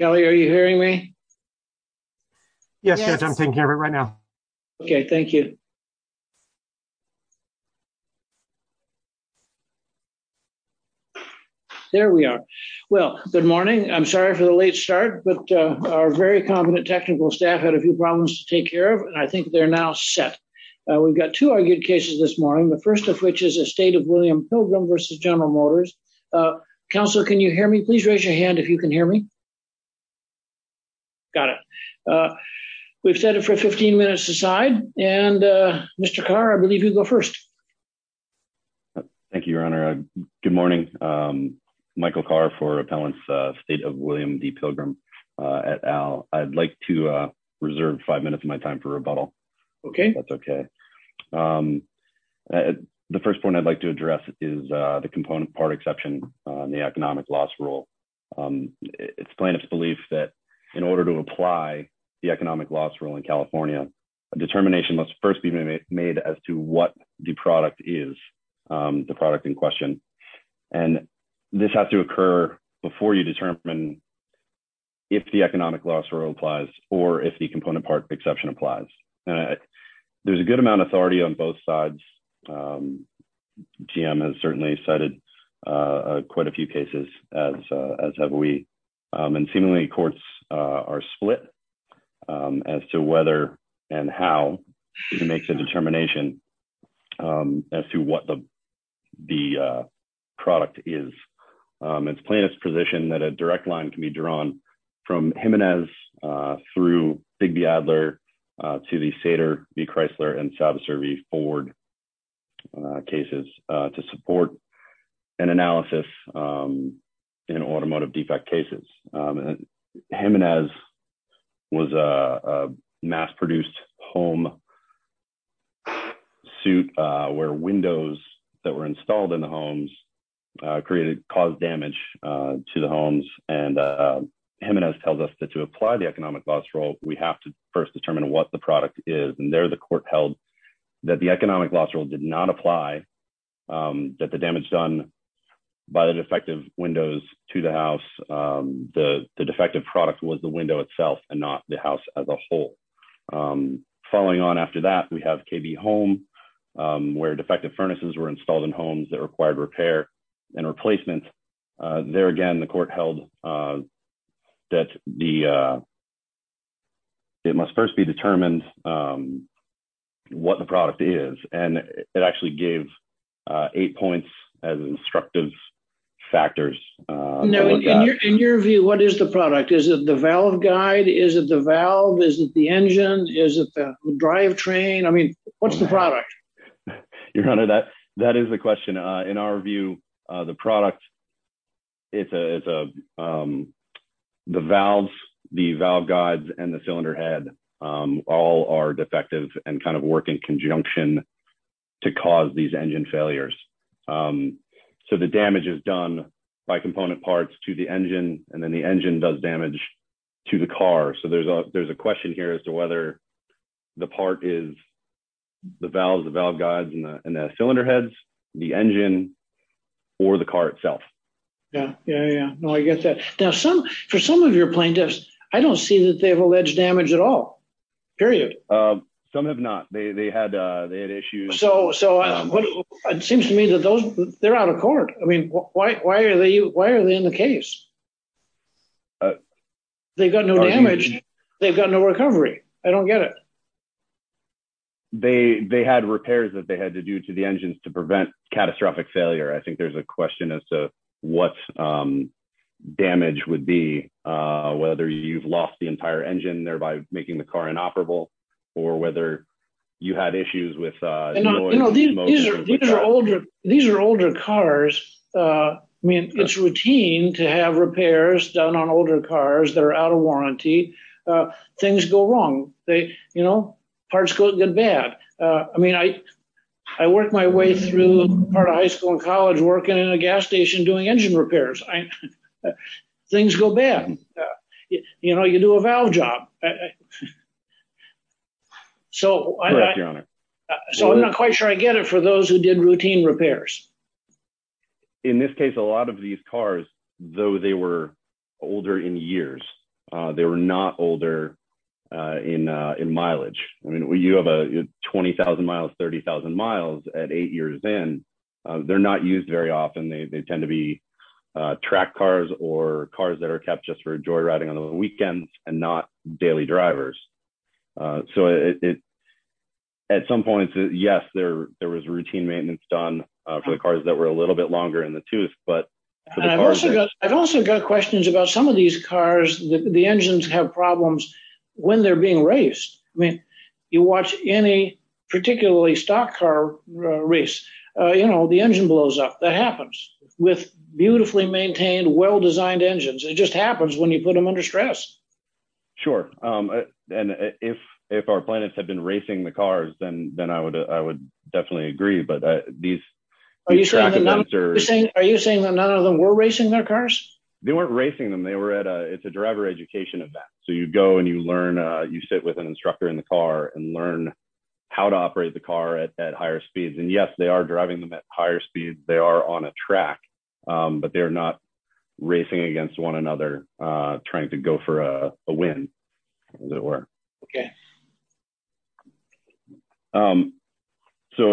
Kelly, are you hearing me? Yes, I'm taking care of it right now. Okay, thank you. There we are. Well, good morning. I'm sorry for the late start, but our very competent technical staff had a few problems to take care of, and I think they're now set. We've got two argued cases this morning, the first of which is a State of William Pilgrim v. General Motors. Counselor, can you hear me? Please raise your hand if you can hear me. Got it. We've set it for 15 minutes aside, and Mr. Carr, I believe you go first. Thank you, Your Honor. Good morning. Michael Carr for Appellants, State of William D. Pilgrim et al. I'd like to reserve five minutes of my time for rebuttal. Okay. That's okay. The first point I'd like to address is the component part exception, the economic loss rule. It's plaintiff's belief that in order to apply the economic loss rule in California, a determination must first be made as to what the product is, the product in question, and this has to occur before you determine if the economic loss rule applies or if the component part exception applies. And there's a good amount of authority on both sides. GM has certainly cited quite a few cases as have we, and seemingly courts are split as to whether and how to make the determination as to what the product is. It's plaintiff's position that a direct line can be drawn from Jimenez through Bigby-Adler to the Sater v. Chrysler and Salvaser v. Ford cases to support an analysis in automotive defect cases. Jimenez was a mass-produced home suit where windows that were installed in the homes created caused damage to the homes, and Jimenez tells us that to apply the economic loss rule, we have to first determine what the product is, and there the court held that the economic loss rule did not apply, that the damage done by the defective windows to the house, the defective product was the window itself and not the house as a whole. Following on after that, we have KB Home where defective furnaces were installed in homes that were replaced. There again, the court held that it must first be determined what the product is, and it actually gave eight points as instructive factors. In your view, what is the product? Is it the valve guide? Is it the valve? Is it the engine? Is it the drivetrain? What's the product? Your Honor, that is the question. In our view, the product, the valves, the valve guides, and the cylinder head all are defective and kind of work in conjunction to cause these engine failures. So the damage is done by component parts to the engine, and then the engine does damage to the car. So there's a question here as to whether the part is the valves, the valve guides, and the cylinder heads, the engine, or the car itself. Yeah, yeah, yeah. No, I get that. Now, some, for some of your plaintiffs, I don't see that they have alleged damage at all, period. Some have not. They had issues. So it seems to me that those, they're out of court. I mean, why are they in the case? They've got no damage. They've got no recovery. I don't get it. They had repairs that they had to do to the engines to prevent catastrophic failure. I think there's a question as to what damage would be, whether you've lost the entire engine, thereby making the car inoperable, or whether you had issues with- These are older cars. I mean, it's routine to have repairs done on older cars that are out of warranty. Things go wrong. Parts go bad. I mean, I worked my way through part of high school and college working in a gas station doing engine repairs. Things go bad. You do a valve job. Correct, Your Honor. So I'm not quite sure I get it for those who did routine repairs. In this case, a lot of these cars, though they were older in years, they were not older in mileage. I mean, you have a 20,000 miles, 30,000 miles at eight years in. They're not used very often. They tend to be track cars or cars that are kept just for joyriding on the weekends and not daily drivers. So at some points, yes, there was routine maintenance done for the cars that were a little bit longer in the tooth, but for the cars- I've also got questions about some of these cars, the engines have problems when they're being raced. I mean, you watch any particularly stock car race, the engine blows up. That happens with beautifully maintained, well-designed engines. It just happens when you put them under stress. Sure. And if our planets have been racing the cars, then I would definitely agree. Are you saying that none of them were racing their cars? They weren't racing them. It's a driver education event. So you go and you learn, you sit with an instructor in the car and learn how to operate the car at higher speeds. And yes, they are driving them at higher speeds. They are on a track, but they're not racing against one another, trying to go for a win, as it were. So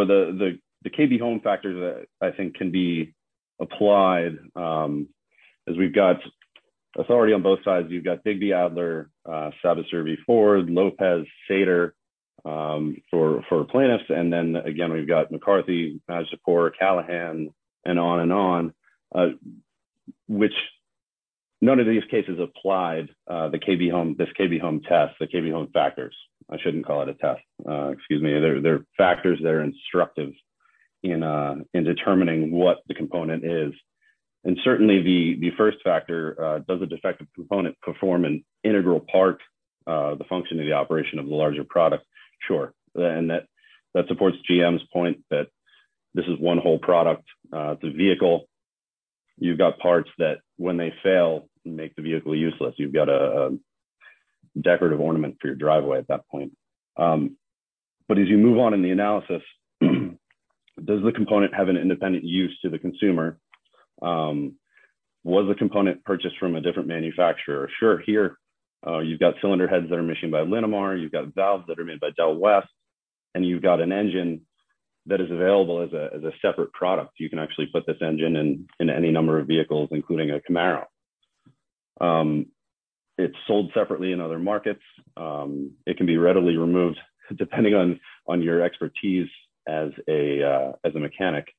the KB home factors that I think can be applied, as we've got authority on both sides, you've got Bigby Adler, Sabitzer V4, Lopez, Sater for plaintiffs. And then again, we've got McCarthy, support Callahan and on and on, which none of these cases applied the KB home, this KB home test, the KB home factors. I shouldn't call it a test. Excuse me. They're factors that are instructive in determining what the component is. And certainly the first factor, does the defective component perform an integral part, the function of the operation of the larger product? Sure. And that supports GM's point that this is one whole product. The vehicle, you've got parts that when they fail, make the vehicle useless. You've got a decorative ornament for your driveway at that point. But as you move on in the analysis, does the component have an independent use to the consumer? Was the component purchased from a different manufacturer? Sure. Here, you've got cylinder heads that are machined by Linamar. You've got valves that are made by Del West, and you've got an engine that is available as a separate product. You can actually put this engine in any number of vehicles, including a Camaro. It's sold separately in other markets. It can be readily removed depending on your expertise as a mechanic.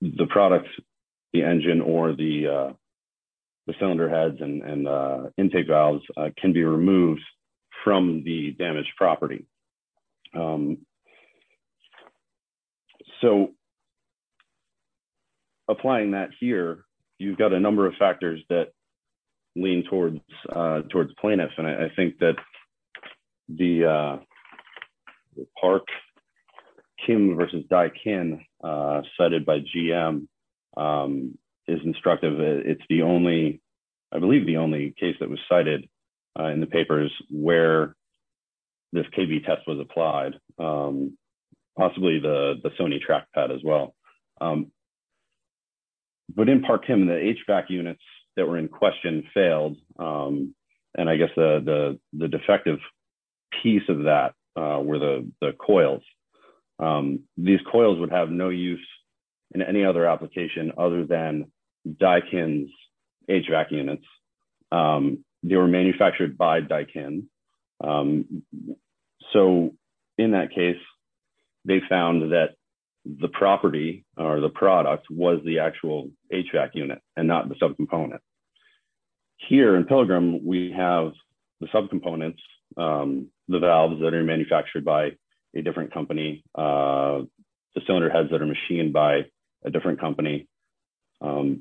The products, the engine or the cylinder heads and intake valves can be removed from the damaged property. So applying that here, you've got a number of factors that lean towards plaintiffs. And I think that the Park-Kim versus Daikin cited by GM is instructive. It's the only, I believe the only case that was cited in the papers where this KB test was applied. Possibly the Sony track pad as well. But in Park-Kim, the HVAC units that were in question failed. And I guess the defective piece of that were the coils. These coils would have no use in any other application other than Daikin's HVAC units. They were manufactured by Daikin. So in that case, they found that the property or the product was the actual HVAC unit and not the subcomponent. Here in Pilgrim, we have the subcomponents, the valves that are manufactured by a different company, the cylinder heads that are machined by a different company. The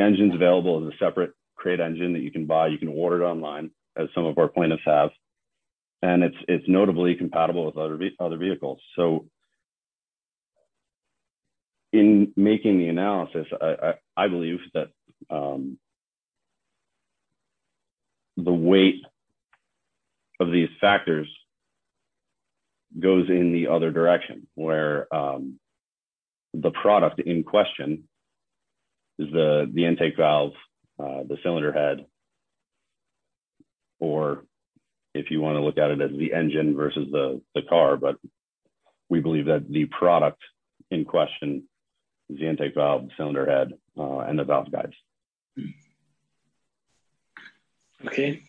engine's available as a separate crate engine that you can buy. You can order it online as some of our plaintiffs have. And it's notably compatible with other vehicles. So in making the analysis, I believe that the weight of these factors goes in the other direction where the product in question is the intake valve, the cylinder head, or if you want to look at it as the engine versus the car, but we believe that the product in question is the intake valve, the cylinder head, and the valve guides. Okay.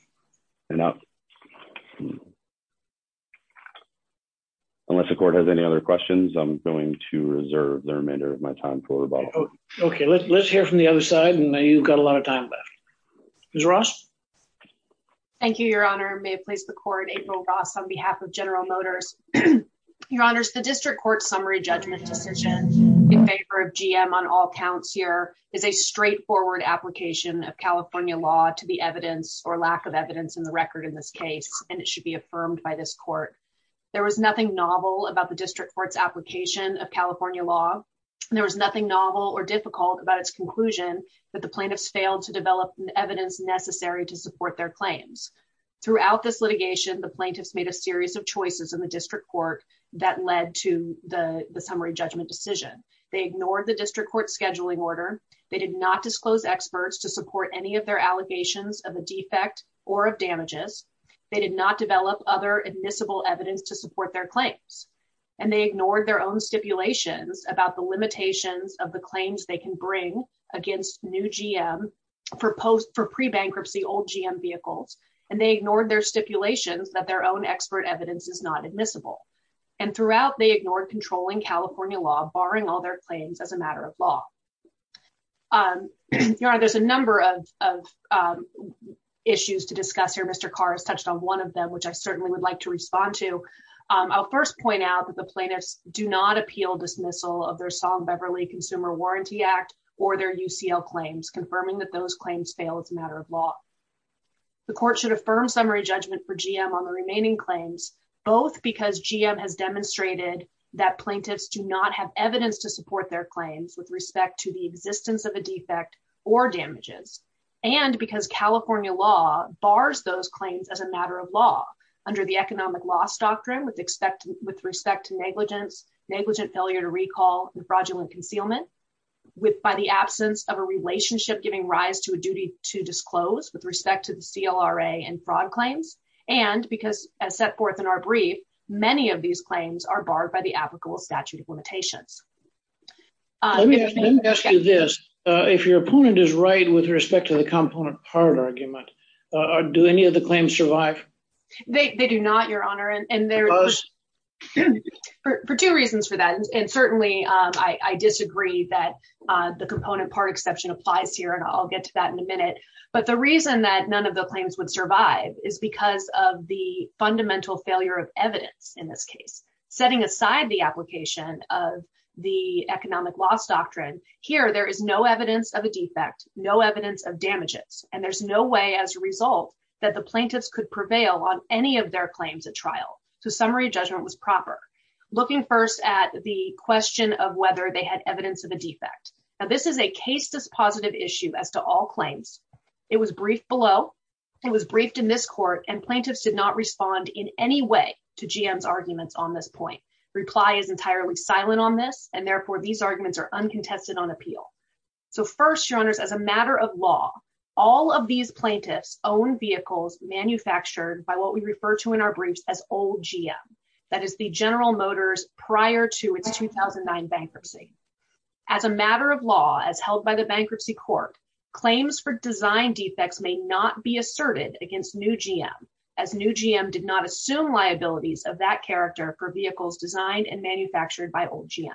Unless the court has any other questions, I'm going to reserve the remainder of my time for rebuttal. Okay. Let's hear from the other side. And you've got a lot of time left. Ms. Ross? Thank you, Your Honor. May it please the court, April Ross, on behalf of General Motors. Your Honors, the district court summary judgment decision in favor of GM on all counts here is a straightforward application of California law to the evidence or lack of evidence in the record in this case, and it should be affirmed by this court. There was nothing novel about the district court's application of California law. There was nothing novel or difficult about its conclusion, but the plaintiffs failed to develop the evidence necessary to support their claims. Throughout this litigation, the plaintiffs made a series of choices in the district court that led to the summary judgment decision. They ignored the district court's scheduling order. They did not disclose experts to support any of their allegations of a defect or of damages. They did not develop other admissible evidence to support their claims, and they ignored their own stipulations about the limitations of the claims they can bring against new GM for pre-bankruptcy old GM vehicles, and they ignored their stipulations that their own expert evidence is not admissible. And throughout, they ignored controlling California law, barring all their claims as a matter of law. Your Honor, there's a number of issues to discuss here. Mr. Carr has touched on one of them, which I certainly would like to respond to. I'll first point out that the plaintiffs do not appeal dismissal of their Beverly Consumer Warranty Act or their UCL claims, confirming that those claims fail as a matter of law. The court should affirm summary judgment for GM on the remaining claims, both because GM has demonstrated that plaintiffs do not have evidence to support their claims with respect to the existence of a defect or damages, and because California law bars those claims as a matter of law under the economic loss doctrine with respect to negligence, negligent failure to recall, fraudulent concealment, by the absence of a relationship giving rise to a duty to disclose with respect to the CLRA and fraud claims, and because as set forth in our brief, many of these claims are barred by the applicable statute of limitations. Let me ask you this. If your opponent is right with respect to the component part argument, do any of the claims survive? They do I disagree that the component part exception applies here, and I'll get to that in a minute, but the reason that none of the claims would survive is because of the fundamental failure of evidence in this case. Setting aside the application of the economic loss doctrine, here there is no evidence of a defect, no evidence of damages, and there's no way as a result that the plaintiffs could prevail on any of their claims at trial. So summary judgment was proper. Looking first at the question of whether they had evidence of a defect. Now this is a case dispositive issue as to all claims. It was briefed below, it was briefed in this court, and plaintiffs did not respond in any way to GM's arguments on this point. Reply is entirely silent on this, and therefore these arguments are uncontested on appeal. So first, your honors, as a matter of law, all of these plaintiffs own vehicles manufactured by what we refer to in our Motors prior to its 2009 bankruptcy. As a matter of law, as held by the bankruptcy court, claims for design defects may not be asserted against new GM, as new GM did not assume liabilities of that character for vehicles designed and manufactured by old GM.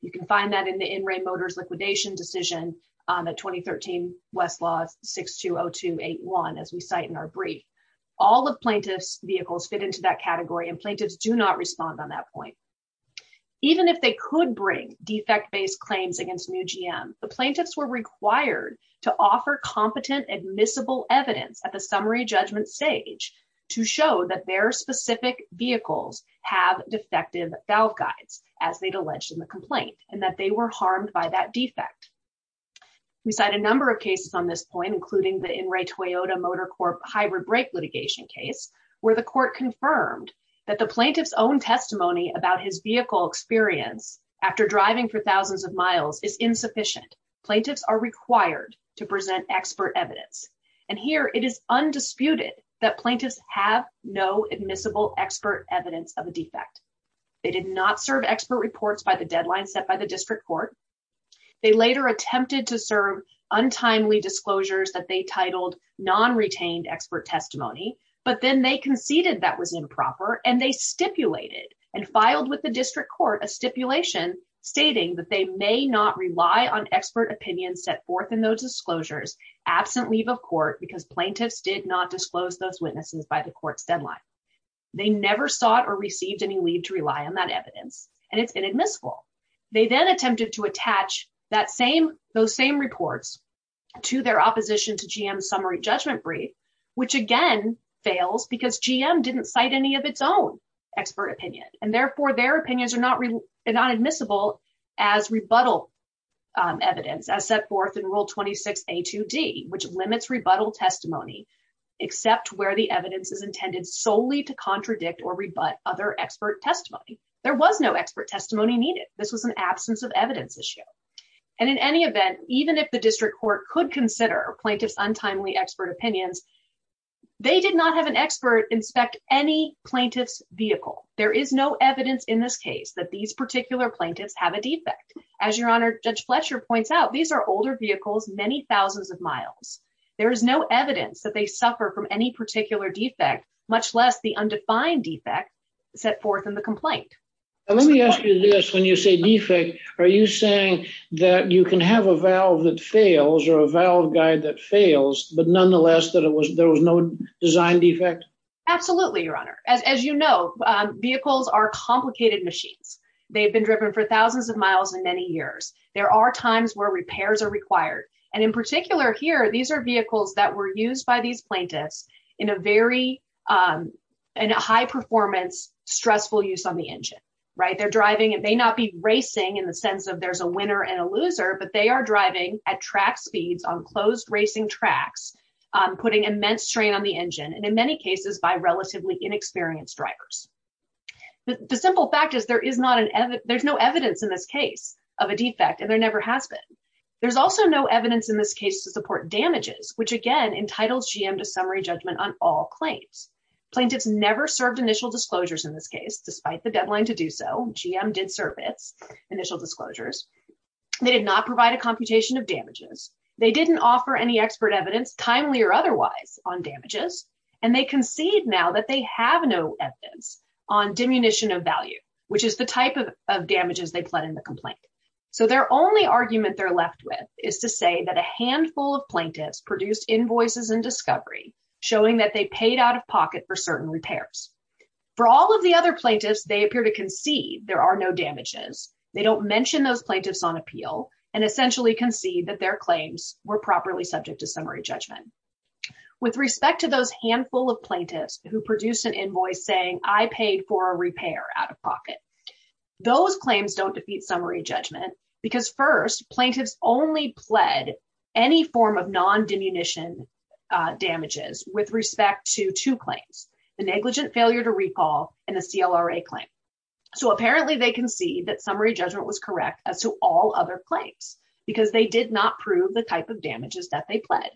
You can find that in the in-ring Motors liquidation decision on the 2013 Westlaw 620281, as we cite in our brief. All of plaintiffs' vehicles fit into that category, and plaintiffs do not respond on that point. Even if they could bring defect-based claims against new GM, the plaintiffs were required to offer competent admissible evidence at the summary judgment stage to show that their specific vehicles have defective valve guides, as they'd alleged in the complaint, and that they were harmed by that defect. We cite a number of cases on this point, including the In-Ray Toyota Motor Hybrid Brake litigation case, where the court confirmed that the plaintiff's own testimony about his vehicle experience after driving for thousands of miles is insufficient. Plaintiffs are required to present expert evidence, and here it is undisputed that plaintiffs have no admissible expert evidence of a defect. They did not serve expert reports by the deadline set by the district court. They later attempted to serve untimely disclosures that they titled non-retained expert testimony, but then they conceded that was improper, and they stipulated and filed with the district court a stipulation stating that they may not rely on expert opinions set forth in those disclosures absent leave of court because plaintiffs did not disclose those witnesses by the court's deadline. They never sought or received any leave to rely on that evidence, and it's inadmissible. They then attempted to attach those same reports to their opposition to GM's summary judgment brief, which again fails because GM didn't cite any of its own expert opinion, and therefore, their opinions are not admissible as rebuttal evidence as set forth in Rule 26A2D, which limits rebuttal testimony except where the evidence is intended solely to contradict or rebut other expert testimony. There was no expert testimony needed. This was an absence of evidence issue, and in any event, even if the district court could consider plaintiffs' untimely expert opinions, they did not have an expert inspect any plaintiff's vehicle. There is no evidence in this case that these particular plaintiffs have a defect. As your Honor, Judge Fletcher points out, these are older vehicles many thousands of miles. There is no evidence that they suffer from any particular defect, much less the undefined defect set forth in the complaint. Let me ask you this. When you say defect, are you saying that you can have a valve that fails or a valve guide that fails, but nonetheless that there was no design defect? Absolutely, Your Honor. As you know, vehicles are complicated machines. They've been driven for thousands of miles in many years. There are times where repairs are required, and in particular here, these are vehicles that were used by these plaintiffs in a very high-performance, stressful use on the engine. They're driving and may not be racing in the sense of there's a winner and a loser, but they are driving at track speeds on closed racing tracks, putting immense strain on the engine, and in many cases by relatively inexperienced drivers. The simple fact is there is no evidence in this case of a defect, and there never has been. There's also no evidence in this case to support damages, which again entitles GM to summary judgment on all claims. Plaintiffs never served initial disclosures in this case. Despite the deadline to do so, GM did serve its initial disclosures. They did not provide a computation of damages. They didn't offer any expert evidence, timely or otherwise, on damages, and they concede now that they have no evidence on diminution of value, which is the type of damages they plead in the complaint. So their only argument they're left with is to say that a handful of plaintiffs produced invoices in discovery showing that they paid out of pocket for certain repairs. For all of the other plaintiffs, they appear to concede there are no damages. They don't mention those plaintiffs on appeal and essentially concede that their claims were properly subject to summary judgment. With respect to those handful of plaintiffs who produced an invoice saying, I paid for a repair out of pocket, those claims don't defeat summary judgment because first, plaintiffs only pled any form of non-diminution damages with respect to two claims, the negligent failure to recall and the CLRA claim. So apparently they concede that summary judgment was correct as to all other claims because they did not prove the type of damages that they pled.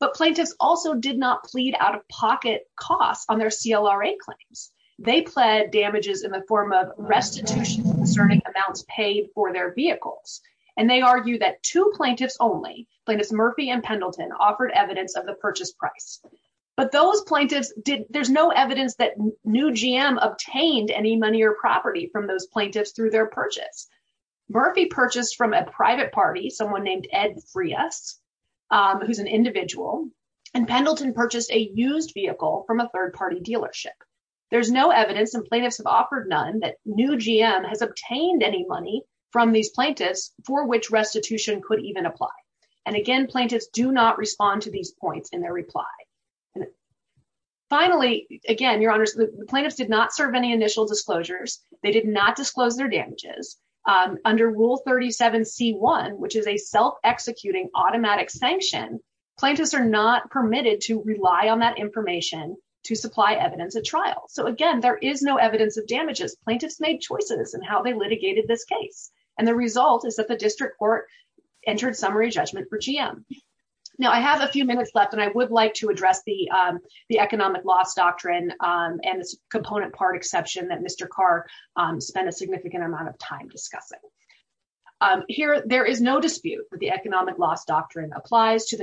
But plaintiffs also did not plead out-of-pocket costs on their CLRA claims. They pled damages in the form of restitution concerning amounts paid for their vehicles, and they argue that two plaintiffs only, plaintiffs Murphy and Pendleton, offered evidence of the purchase price. But those plaintiffs did, there's no evidence that new GM obtained any money or property from those plaintiffs through their purchase. Murphy purchased from a private party, someone named Ed Frias, who's an individual, and Pendleton purchased a used vehicle from a third-party dealership. There's no evidence and plaintiffs have offered none that new GM has obtained any money from these plaintiffs for which restitution could even apply. And again, plaintiffs do not respond to these points in their reply. And finally, again, your honors, the plaintiffs did not serve any initial disclosures. They did not disclose their damages. Under Rule 37 C1, which is a self-executing automatic sanction, plaintiffs are not permitted to rely on that information to supply evidence at trial. So again, there is no evidence of damages. Plaintiffs made choices in how they litigated this case, and the result is that the district court entered summary judgment for GM. Now, I have a few minutes left, and I would like to address the economic loss doctrine and its component part exception that Mr. Carr spent a significant amount of time discussing. Here, there is no dispute that the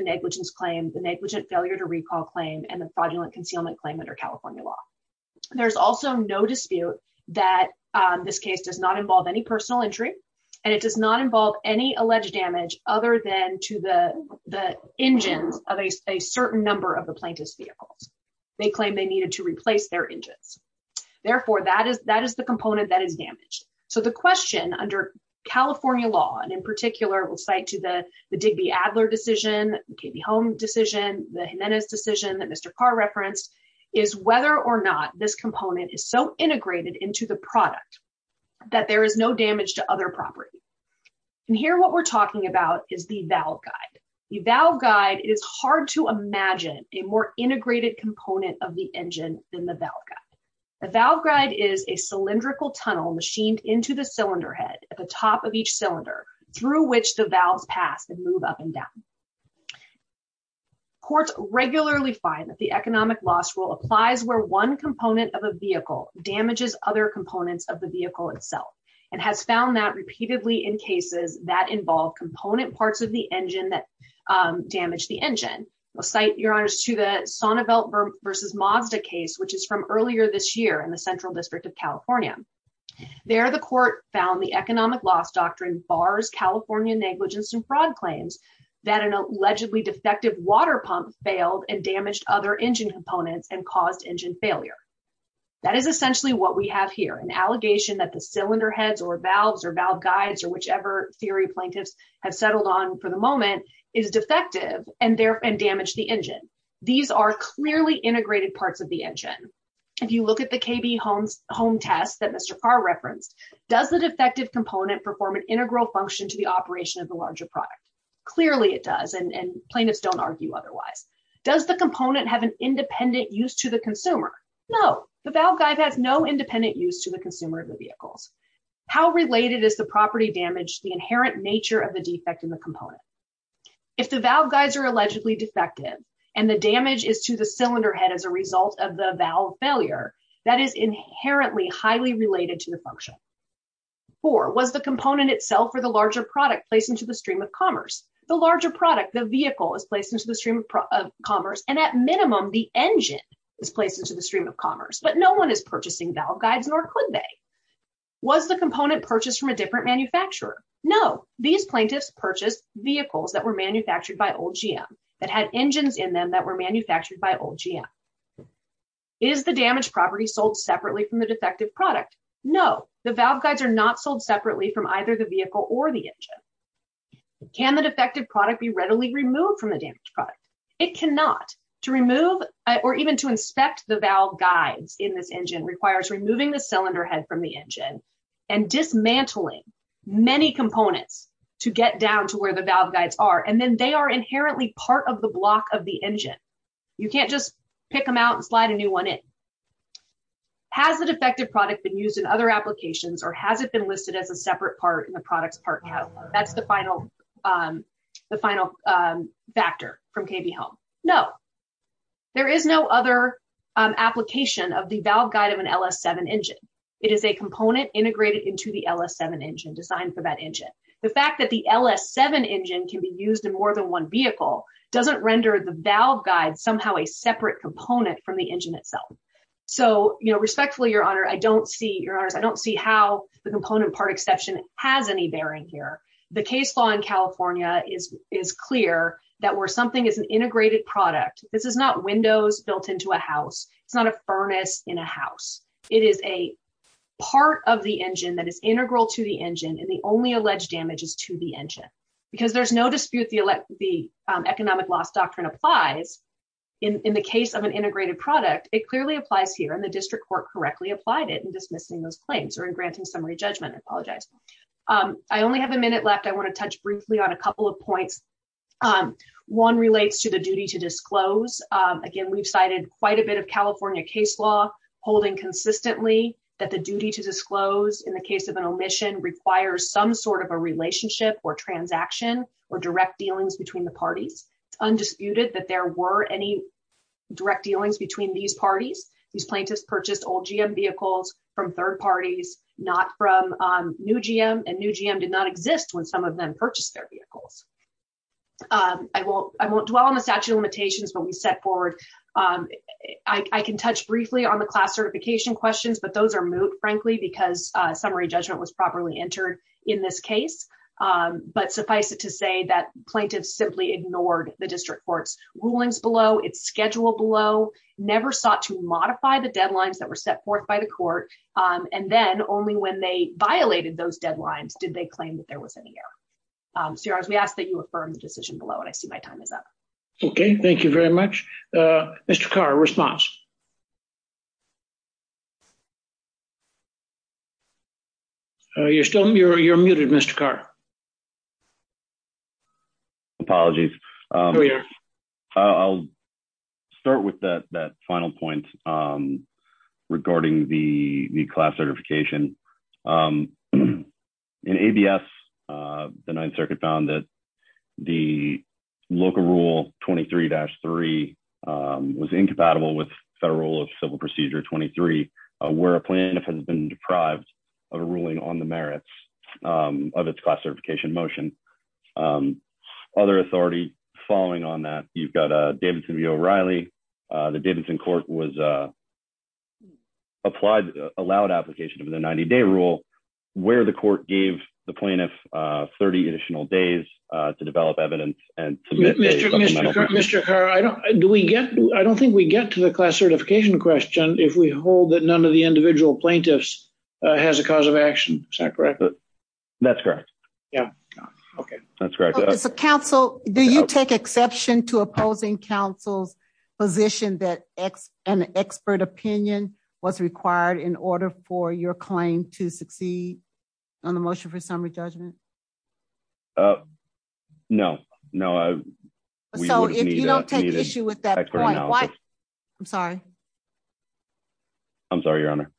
negligence claim, the negligent failure to recall claim, and the fraudulent concealment claim under California law. There's also no dispute that this case does not involve any personal injury, and it does not involve any alleged damage other than to the engines of a certain number of the plaintiff's vehicles. They claim they needed to replace their engines. Therefore, that is the component that is damaged. So the question under California law, and in particular, we'll cite to the Digby-Adler decision, the KB Home decision, the Jimenez decision that Mr. Carr referenced, is whether or not this component is so integrated into the product that there is no damage to other property. And here, what we're talking about is the valve guide. The valve guide is hard to imagine a more integrated component of the engine than the valve guide. The valve guide is a cylindrical move up and down. Courts regularly find that the economic loss rule applies where one component of a vehicle damages other components of the vehicle itself, and has found that repeatedly in cases that involve component parts of the engine that damage the engine. We'll cite, Your Honors, to the Sonnevelt versus Mazda case, which is from earlier this year in the Central District of California. There, the court found the economic loss doctrine bars California negligence and fraud claims that an allegedly defective water pump failed and damaged other engine components and caused engine failure. That is essentially what we have here, an allegation that the cylinder heads or valves or valve guides or whichever theory plaintiffs have settled on for the moment is defective and damaged the engine. These are clearly integrated parts of the engine. If you look at the KB Home test that Mr. Carr referenced, does the defective component perform an integral function to the operation of the larger product? Clearly it does, and plaintiffs don't argue otherwise. Does the component have an independent use to the consumer? No, the valve guide has no independent use to the consumer of the vehicles. How related is the property damage to the inherent nature of the defect in the component? If the valve guides are allegedly defective and the damage is to the cylinder head as a result of the valve failure, that is inherently highly related to the function. Four, was the component itself or the larger product placed into the stream of commerce? The larger product, the vehicle, is placed into the stream of commerce and at minimum the engine is placed into the stream of commerce, but no one is purchasing valve guides nor could they. Was the component purchased from a different manufacturer? No, these plaintiffs purchased vehicles that were manufactured by Old GM that had engines in them that were manufactured by Old GM. Is the damaged property sold separately from the defective product? No, the valve guides are not sold separately from either the vehicle or the engine. Can the defective product be readily removed from the damaged product? It cannot. To remove or even to inspect the valve guides in this engine requires removing the cylinder head from the engine and dismantling many components to get down to where the valve guides are, and then they are inherently part of the block of the engine. You can't just pick them out and slide a new one in. Has the defective product been used in other applications or has it been listed as a separate part in the product's part catalog? That's the final factor from KB Home. No, there is no other application of the valve guide of an LS7 engine. It is a component integrated into the LS7 engine designed for that engine. The fact that the LS7 engine can be used in more than one vehicle doesn't render the valve guide somehow a separate component from the engine itself. So respectfully, Your Honor, I don't see how the component part exception has any bearing here. The case law in California is clear that where something is an integrated product, this is not windows built into a house. It's not a furnace in a house. It is a part of the engine that is integral to the engine and the only alleged damage is to the engine. Because there's no dispute the economic loss doctrine applies in the case of an integrated product, it clearly applies here and the district court correctly applied it in dismissing those claims or in granting summary judgment. I apologize. I only have a minute left. I want to touch briefly on a couple of points. One relates to the duty to disclose. Again, we've cited quite a bit of California case law holding consistently that duty to disclose in the case of an omission requires some sort of a relationship or transaction or direct dealings between the parties. It's undisputed that there were any direct dealings between these parties. These plaintiffs purchased old GM vehicles from third parties, not from new GM and new GM did not exist when some of them purchased their vehicles. I won't dwell on the statute of limitations, but we set forward. I can touch briefly on the class certification questions, but those are moot, frankly, because summary judgment was properly entered in this case. But suffice it to say that plaintiffs simply ignored the district court's rulings below, its schedule below, never sought to modify the deadlines that were set forth by the court, and then only when they violated those deadlines did they claim that there was any error. So, we ask that you affirm the decision below and I see my time is up. Okay, thank you very much. Mr. Carr, response. You're muted, Mr. Carr. Apologies. I'll start with that final point regarding the class certification. In ABS, the Ninth Circuit found that the local rule 23-3 was incompatible with federal civil procedure 23, where a plaintiff has been deprived of a ruling on the merits of its class certification motion. Other authority following on that, you've got Davidson v. O'Reilly. The Davidson court was allowed application of the 90-day rule, where the court gave the plaintiff 30 additional days to develop evidence. Mr. Carr, I don't think we get to the class certification question if we hold that none of the individual plaintiffs has a cause of action. Is that correct? That's correct. Yeah, okay. That's correct. So, Council, do you take exception to opposing Council's position that an expert opinion was required in order for your claim to succeed on the motion for summary judgment? No, no. So, if you don't take issue with that point, why? I'm sorry. I'm sorry, Your Honor.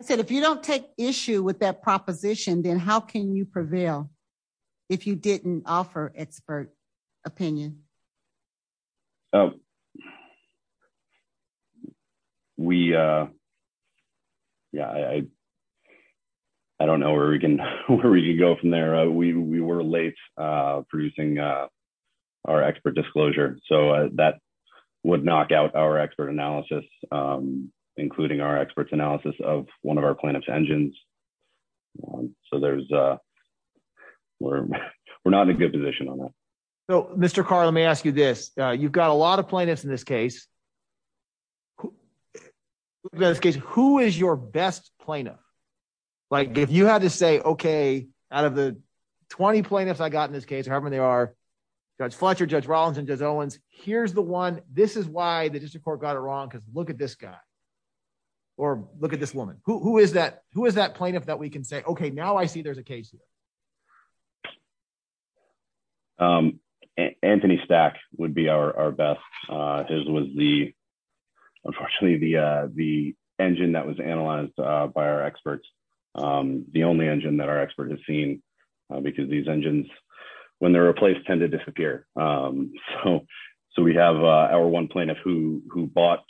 I said if you don't take issue with that proposition, then how can you prevail if you didn't offer expert opinion? We, yeah, I don't know where we can go from there. We were late producing our expert disclosure, so that would knock out our expert analysis, including our expert's analysis of one of our plaintiffs. So, we're not in a good position on that. So, Mr. Carr, let me ask you this. You've got a lot of plaintiffs in this case. Who is your best plaintiff? Like, if you had to say, okay, out of the 20 plaintiffs I got in this case, however many there are, Judge Fletcher, Judge Rollins, and Judge Owens, here's the one. This is why the district court got it wrong, because look at this guy, or look at this woman. Who is that plaintiff that we can say, okay, now I see there's a case here? Anthony Stack would be our best. His was the, unfortunately, the engine that was analyzed by our experts. The only engine that our expert has seen, because these engines, when they're replaced, tend to disappear. So, we have our one plaintiff who bought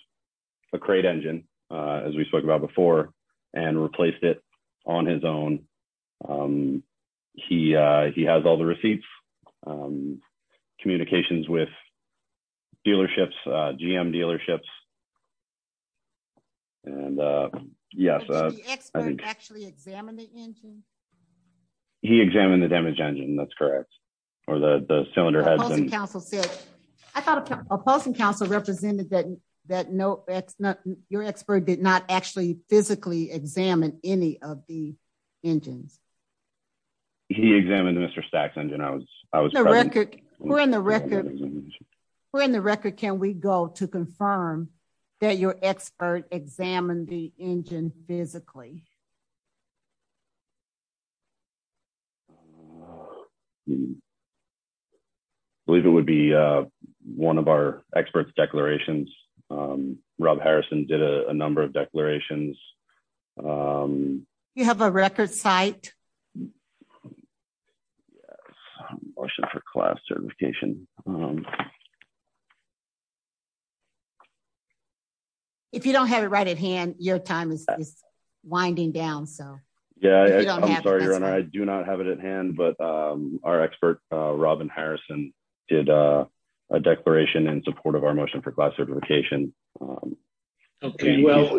a crate engine, as we spoke about before, and replaced it on his own. He has all the receipts, communications with dealerships, GM dealerships, and yes. Did the expert actually examine the engine? That's correct, or the cylinder has been... I thought a posting council represented that your expert did not actually physically examine any of the engines. He examined Mr. Stack's engine. We're in the record. Can we go to confirm that your expert examined the engine physically? I believe it would be one of our experts' declarations. Rob Harrison did a number of declarations. Do you have a record site? Motion for class certification. If you don't have it right at hand, your time is winding down. Yeah, I'm sorry, Your Honor. I do not have it at hand, but our expert, Robin Harrison, did a declaration in support of our motion for class certification. Okay, well,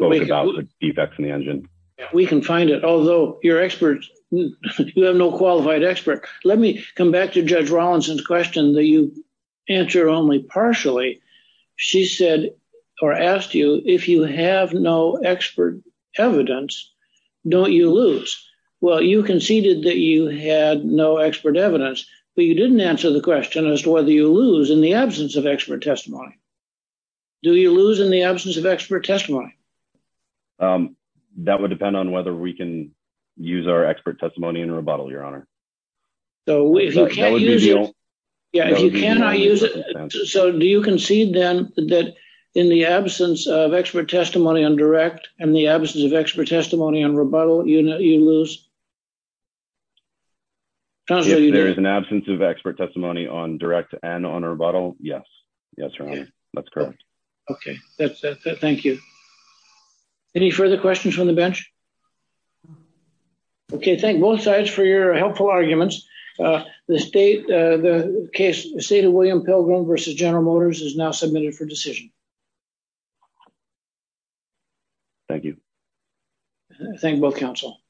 we can find it, although your experts, you have no qualified expert. Let me come back to Judge Rawlinson's question that you answer only partially. She said, or asked you, if you have no expert evidence, don't you lose? Well, you conceded that you had no expert evidence, but you didn't answer the question as to whether you lose in the absence of expert testimony. Do you lose in the absence of expert testimony? That would depend on whether we can use our expert testimony in rebuttal, Your Honor. So, if you cannot use it... So, do you concede, then, that in the absence of expert testimony on direct and the absence of expert testimony on rebuttal, you lose? If there is an absence of expert testimony on direct and on rebuttal, yes. Yes, Your Honor. That's correct. Okay, thank you. Any further questions from the bench? Okay, thank both sides for your helpful arguments. The state of William Pilgrim versus General Motors is now submitted for decision. Thank you. Thank you, both counsel.